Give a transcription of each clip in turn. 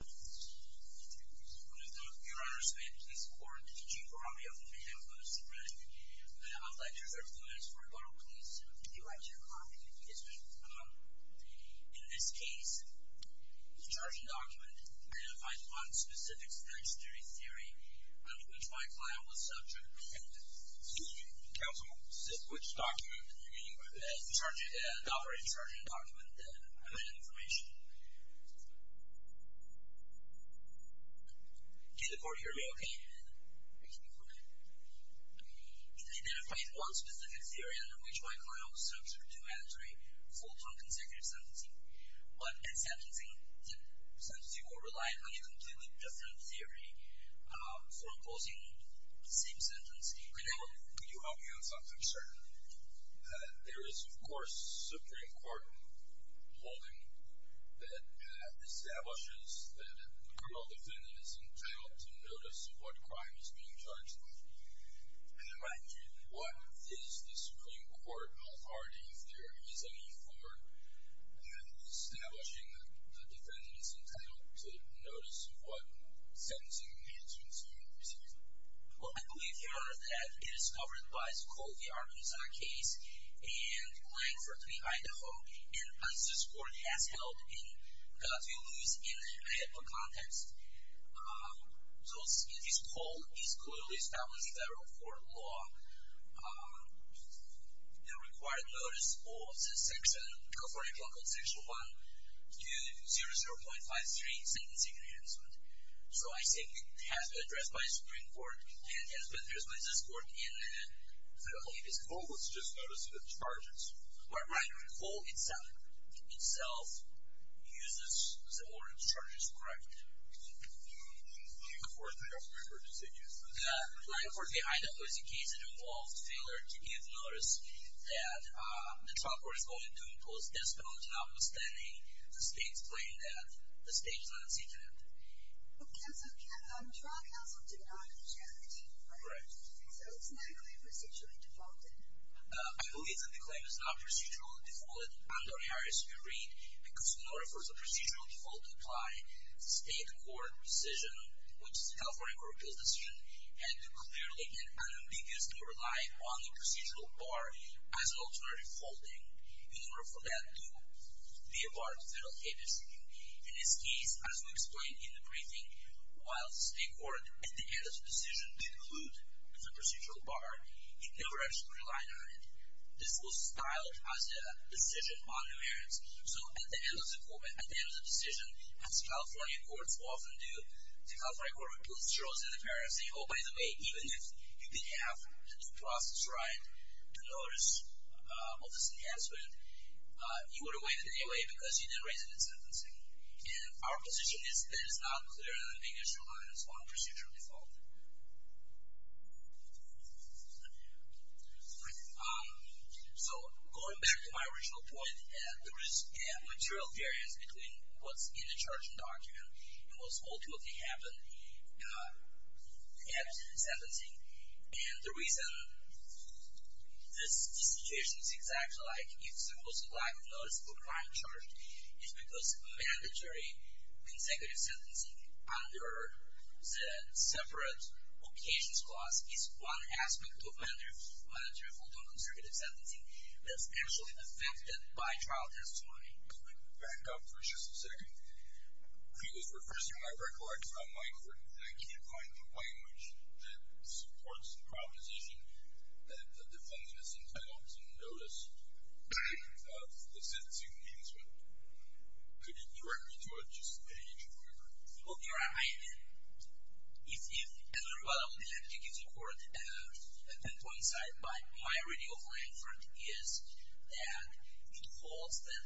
Would the viewer and participant please report to the Chief of Army of Miami-Dade Police Department. I would like to reserve the minutes for a vote, please. Would you like to comment? Yes, ma'am. In this case, the charging document identified one specific statutory theory under which my client was subject. Counsel, which document? The operating charging document. And I have that information. Did the court hear me okay? Yes, ma'am. Okay. It identified one specific theory under which my client was subject to mandatory full-time consecutive sentencing. But in sentencing, the sentencing will rely on a completely different theory for imposing the same sentence. Could you help me with something, sir? There is, of course, Supreme Court ruling that establishes that the criminal defendant is entitled to notice what crime is being charged with. Right. What is the Supreme Court authority theory for establishing that the defendant is entitled to notice what sentencing needs to be received? Well, I believe, Your Honor, that it is covered by the Colby-Arkansas case and Langford v. Idaho. And as this court has held in Godfrey-Lewis in a HIPAA context, so it is called, it is clearly established in federal court law, the required notice of the section, California Constitution 1, to 0-0.53, sentencing enhancement. So I think it has been addressed by Supreme Court and has been addressed by this court in a HIPAA context. What was just noticed in the charges? Mark Reinhart, the whole itself uses the word charges, correct? The Langford v. Idaho case involved failure to give notice that the trial court is going to impose decimals, notwithstanding the state's claim that the state is unseated. Well, trial counsel did not have a charge of decimals, right? Correct. So it's not a claim procedurally defaulted? I believe that the claim is not procedurally defaulted under Harris v. Reed because in order for a procedural default to apply, the state court decision, which is the California Court of Appeals decision, had to clearly and unambiguously rely on the procedural bar as an alternative holding in order for that to be a part of federal capacity. In this case, as we explained in the briefing, while the state court, at the end of the decision, did include the procedural bar, it never actually relied on it. This was styled as a decision on coherence. So at the end of the decision, as California courts often do, the California Court of Appeals throws in the parent and says, oh, by the way, even if you did have the due process right, the notice of this enhancement, you would have waived it anyway because you didn't raise it in sentencing. And our position is that it's not clear and unambiguously relies on procedural default. So going back to my original point, there is material variance between what's in the charging document and what's ultimately happened at sentencing. And the reason this situation is exactly like it's supposed to be, like a noticeable crime charge, is because mandatory consecutive sentencing under the separate occasions clause is one aspect of mandatory full-time consecutive sentencing that's actually affected by trial testimony. Back up for just a second. Because we're first in my record, I just got a microphone, and I can't find a language that supports the proposition that the defendant is entitled to notice of the sentencing enhancement. Could you direct me to it? Just a hint of my record. Okay. I am in. If, as a rebuttal, let me take it to court. At that point in time, my idea of my record is that it holds that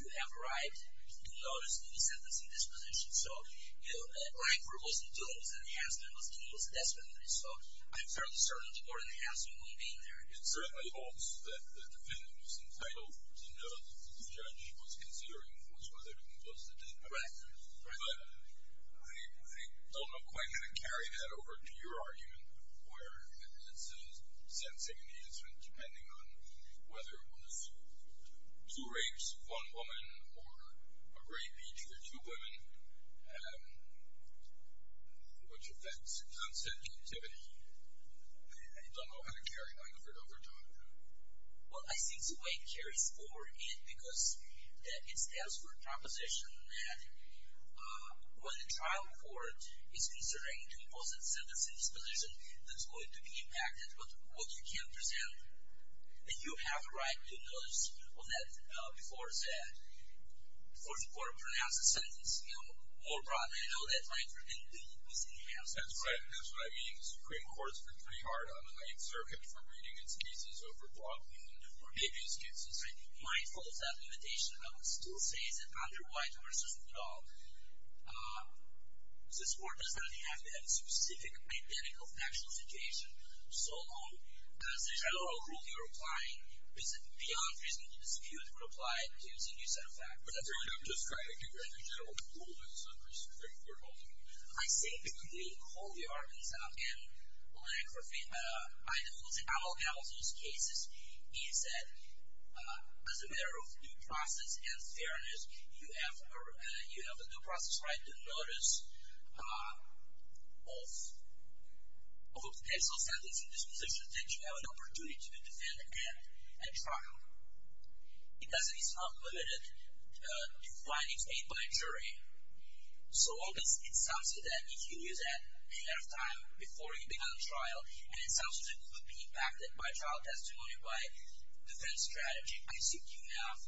you have a right to do notice of the sentencing disposition. So, you know, a crime for which the defendant was enhancement was due as a death penalty. So I'm fairly certain that the court enhancement won't be in there. It certainly holds that the defendant was entitled to know that the judge was considering what's worth everything plus the death penalty. Right. But I don't know quite how to carry that over to your argument, where it's a sentencing enhancement depending on whether it was two rapes, one woman, or a rape each for two women, which affects consent captivity. I don't know how to carry that over to my argument. Well, I think the way it carries forward is because it stands for a proposition that when the trial court is considering to impose a sentencing disposition that's going to be impacted with what you can't present, and you have a right to notice of that before the court pronounces a sentencing. More broadly, I know that my interpretation is enhanced. That's right. And that's what I mean. The Supreme Court's been pretty hard on the Ninth Circuit for reading its cases over blocking or making excuses. I'm mindful of that limitation. I would still say it's a counter-white versus blue dog. This court does not have to have a specific mechanical factual situation. So, as a general rule, you're applying beyond reasonable dispute, you would apply it to a serious set of facts. But that's really not described as a general rule. That's a very straightforward argument. I say it because we hold the arguments up. And, like, for example, in all of Hamilton's cases, he said as a matter of due process and fairness, you have a due process right to notice of a potential sentencing disposition that you have an opportunity to defend and trial. It doesn't mean it's not limited to findings made by a jury. So, it sounds to me that if you use that ahead of time, before you begin a trial, and it sounds to me it could be impacted by trial testimony, by defense strategy, I think you have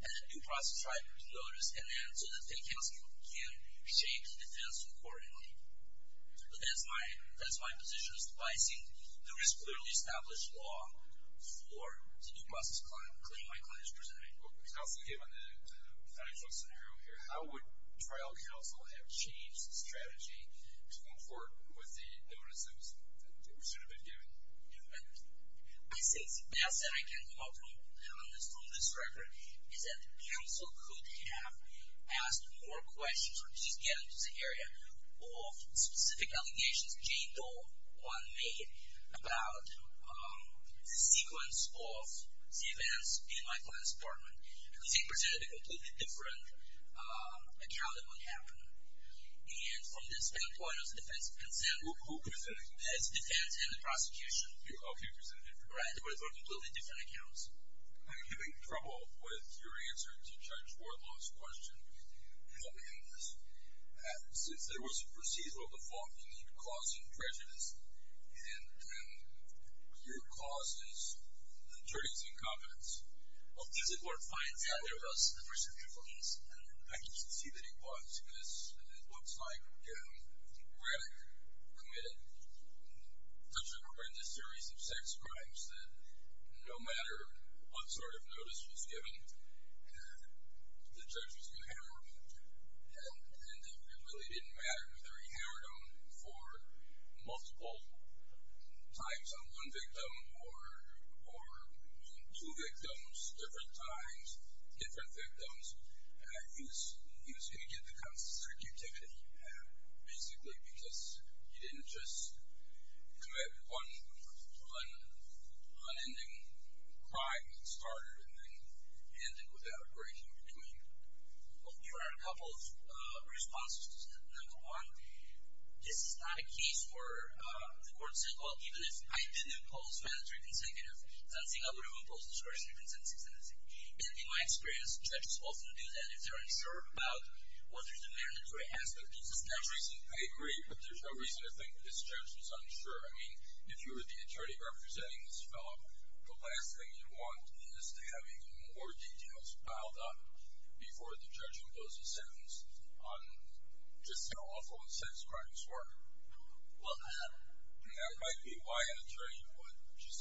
a due process right to notice so that the counsel can shape the defense accordingly. But that's my position. I think there is clearly established law for the due process claim my client is presenting. Well, counsel, given the financial scenario here, how would trial counsel have changed the strategy going forward with the notice that was sort of been given? I think the best that I can come up with from this record is that the counsel could have asked more questions or just get into the area of specific allegations Jane Doe made about the sequence of the events in my client's apartment. She presented a completely different account of what happened. And from this standpoint, as a defense counsel... Who presented it? As a defense and the prosecution. Okay, presented it. Right, but it's on completely different accounts. I'm having trouble with your answer to Judge Wardlaw's question. Help me out on this. Since there was a procedural default, you mean causing prejudice, and then your cause is the jury's incompetence. Well, as the court finds out, there was a procedure for this, and I can see that it was, because it looks like Radek committed such a horrendous series of sex crimes that no matter what sort of notice was given, the judge was going to hammer him. And it really didn't matter whether he hammered him for multiple times on one victim or two victims, different times, different victims. He was going to get the constant circuitivity, basically because he didn't just commit one unending crime that started and then ended without a break in between. Well, here are a couple of responses to that. Number one, this is not a case where the court said, well, even if I didn't impose mandatory consecutive, I don't think I would have imposed discretionary consensus in this case. And in my experience, judges often do that if they're unsure about what is a mandatory aspect of the statute. I agree, but there's no reason to think this judge was unsure. I mean, if you were the attorney representing this fellow, the last thing you want is having more details piled up before the judge imposes sentence on just how awful his sex crimes were. Well, I don't know. I mean, that might be why an attorney would just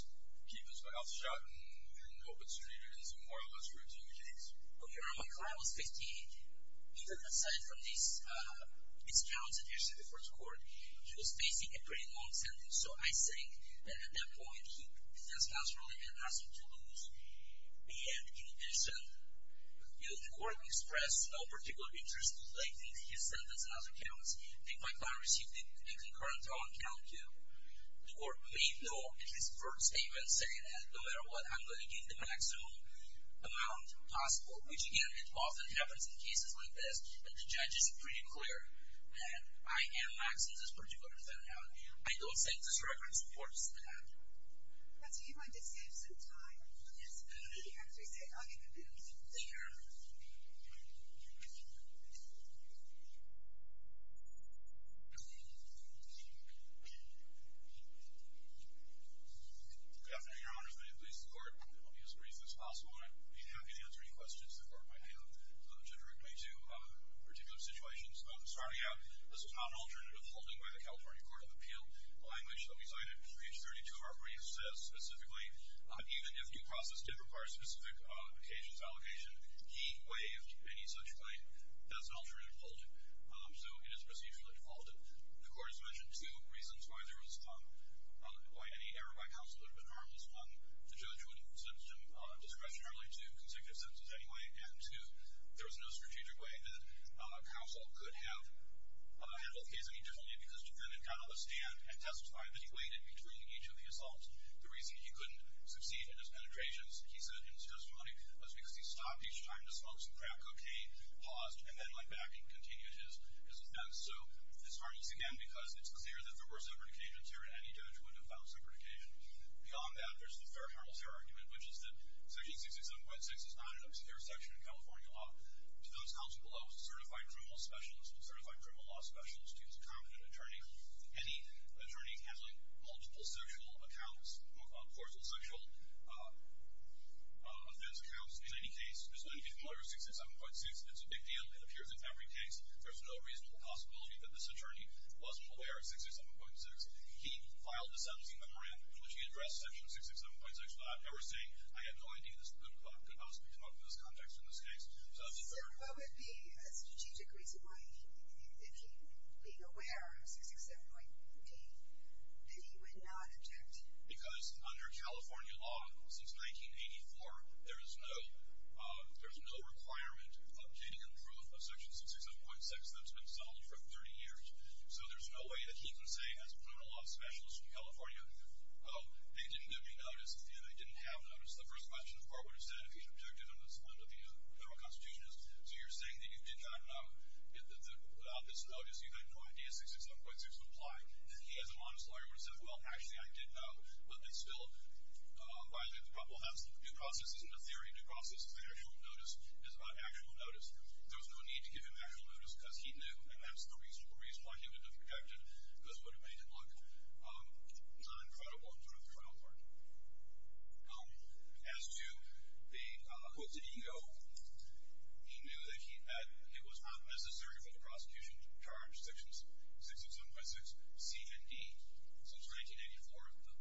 keep his mouth shut and hope it's treated as a more or less routine case. Okay, now, my client was 58. He did, aside from these counts that he received before the court, he was facing a pretty long sentence. So I think that at that point, the defense counsel really didn't ask him to lose. And in addition, the court expressed no particular interest in delaying his sentence in other counts. I think my client received the inconcurrent all-in count, too. The court made no, at least, word statement saying that no matter what, I'm going to give the maximum amount possible, which, again, it often happens in cases like this. And the judge is pretty clear that I am maxing this particular thing out. I don't think this record supports that. You want to save some time? Yes. After we say all-in, we're good. Sure. Good afternoon, Your Honor. As the court only has the reasons possible, I would be happy to answer any questions the court might have, which are directly to particular situations. Starting out, this is not an alternative holding by the California Court of Appeal. The language that we cited, page 32 of our brief, says specifically, even if due process did require a specific occasions allocation, he waived any such claim. That's an alternative holding. So it is procedurally defaulted. The court has mentioned two reasons why there was any error by counsel that would have been harmless. One, the judge wouldn't have sentenced him discretionarily to consecutive sentences anyway. And two, there was no strategic way that counsel could have held the case any differently because defendant got on the stand and testified that he waited between each of the assaults. The reason he couldn't succeed in his penetrations, he said, in his testimony was because he stopped each time to smoke some crack cocaine, paused, and then went back and continued his offense. So this harms again because it's clear that there were separate occasions here, and any judge wouldn't have found separate occasion. Beyond that, there's the fair-harmless error argument, which is that Section 667.6 is not an obscure section of California law. To those counsel below, certified criminal specialists, to this competent attorney, any attorney handling multiple sexual accounts, more called causal sexual offense accounts in any case, is going to be familiar with 667.6. It's a big deal. It appears in every case. There's no reasonable possibility that this attorney wasn't aware of 667.6. He filed a sentencing memorandum in which he addressed Section 667.6 without ever saying, I have no idea. This is a good book. It helps me come up with this context in this case. So what would be a strategic reason why, if he'd been aware of 667.6, that he would not object? Because under California law, since 1984, there is no requirement of obtaining and proof of Section 667.6 that's been settled for 30 years. So there's no way that he can say, as a criminal law specialist in California, they didn't give me notice, and they didn't have notice. The first question the court would have said, if he'd objected under the federal constitution is, so you're saying that you did not know about this notice, you had no idea 667.6 would apply. He, as a honest lawyer, would have said, well, actually, I did know, but it still violated the problem. The new process isn't a theory. The new process is an actual notice. It's about actual notice. There was no need to give him actual notice, because he knew, and that's the reason why he would have objected, because it would have made it look non-credible in terms of the criminal court. As to the quotes that he owed, he knew that it was not necessary for the prosecution to charge Section 667.6 C and D. Since 1984,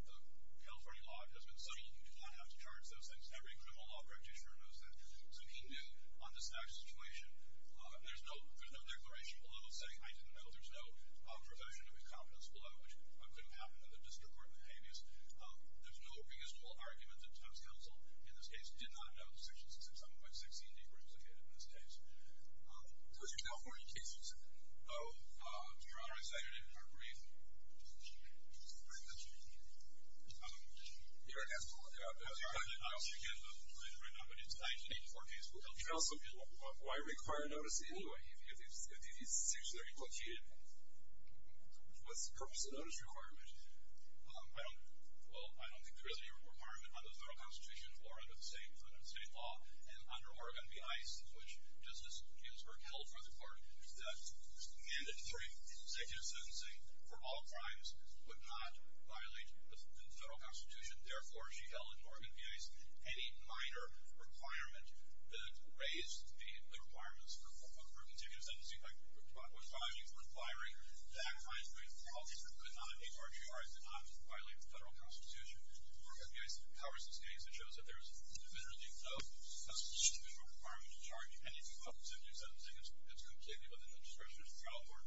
the California law has been such that you do not have to charge those things. Every criminal law practitioner knows that. So he knew on this actual situation, there's no declaration below saying, I didn't know, there's no profession of incompetence below, which couldn't happen in the district court in Habeas. There's no reasonable argument that the Times-Council, in this case, did not know that Section 667.6 C and D were implicated in this case. So it's a California case, you said? No. Your Honor, I cited it in our brief. Just a quick question. You're going to have to look it up. I don't know if you can find it right now, but it's a 1984 case. Why require notice anyway? If these sections are implicated, what's the purpose of notice requirement? Well, I don't think there is any requirement under the federal constitution or under the state law. And under Oregon v. ICE, which Justice Ginsburg held for the court, that mandatory consecutive sentencing for all crimes would not violate the federal constitution. Therefore, she held in Oregon v. ICE, any minor requirement that raised the requirements for continued sentencing was binding for requiring that mandatory sentencing could not HRGR and could not violate the federal constitution. Oregon v. ICE covers this case. It shows that there is individually no constitutional requirement to charge any people with consecutive sentencing. It's completely within the discretion of the trial court.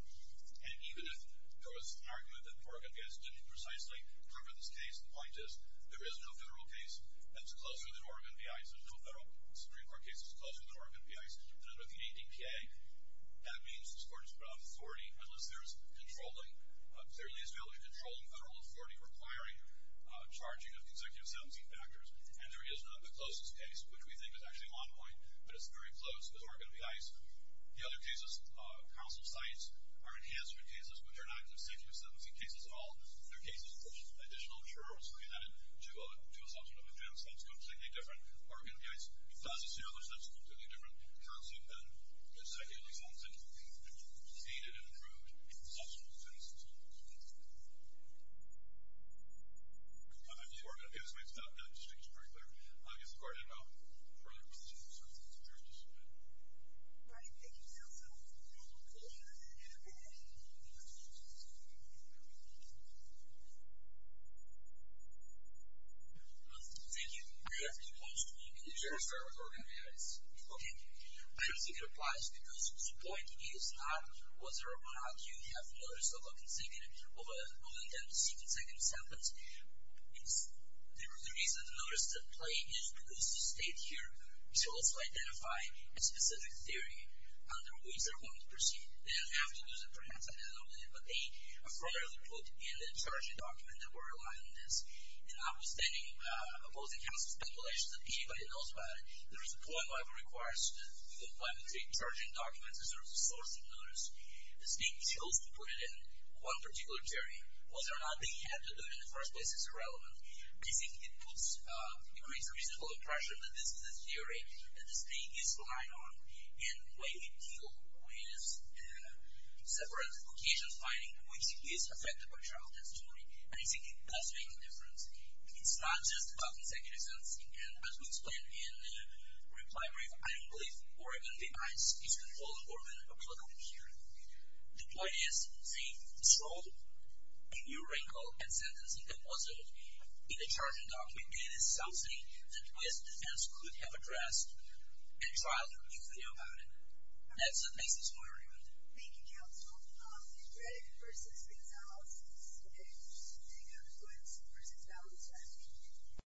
And even if there was an argument that Oregon v. ICE didn't precisely cover this case, the point is there is no federal case that's closer than Oregon v. ICE. There's no federal Supreme Court case that's closer than Oregon v. ICE. And under the ADPA, that means the court is without authority unless there is controlling federal authority requiring charging of consecutive sentencing factors. And there is not the closest case, which we think is actually one point, but it's very close, is Oregon v. ICE. The other cases, counsel sites are enhanced for cases which are not consecutive sentencing cases at all. They're cases in which additional jurors who have been added to a subsequent sentence is completely different than Oregon v. ICE. If that's the case, that's a completely different concept than consecutive sentencing. It's needed and improved in subsequent sentences. If you are going to pay respect to that, just make sure it's very clear. I guess the court had no further questions, so I think it's fair to submit. All right, thank you, counsel. Thank you. Thank you. Thank you. I have two points for you. I don't think it applies because the point is whether or not you have notice of a consecutive, of an unintended consecutive sentence. The reason to notice that play is because the state here should also identify a specific theory under which they're going to proceed. They don't have to do that, perhaps, I don't know. But they are further put in the charging document that we're relying on this. And notwithstanding both the counsel's speculation that anybody knows about it, there is a point where it requires that you apply the charging document as a source of notice. The state chose to put it in one particular theory. Whether or not they had to do it in the first place is irrelevant. I think it creates a reasonable impression that this is a theory that the state is relying on in the way we deal with separate locations, finding which is affected by childhood story. And I think it does make a difference. It's not just about consecutive sentencing. And as we explained in the reply brief, I don't believe Oregon D.I.'s speech can hold Oregon applicable here. The point is the troll, the new wrinkle and sentencing composite in the charging document is something that U.S. defense could have addressed and tried to review the deal about it. That's what makes this more important. Thank you, counsel. Greg versus Gonzalez. Okay. Thank you.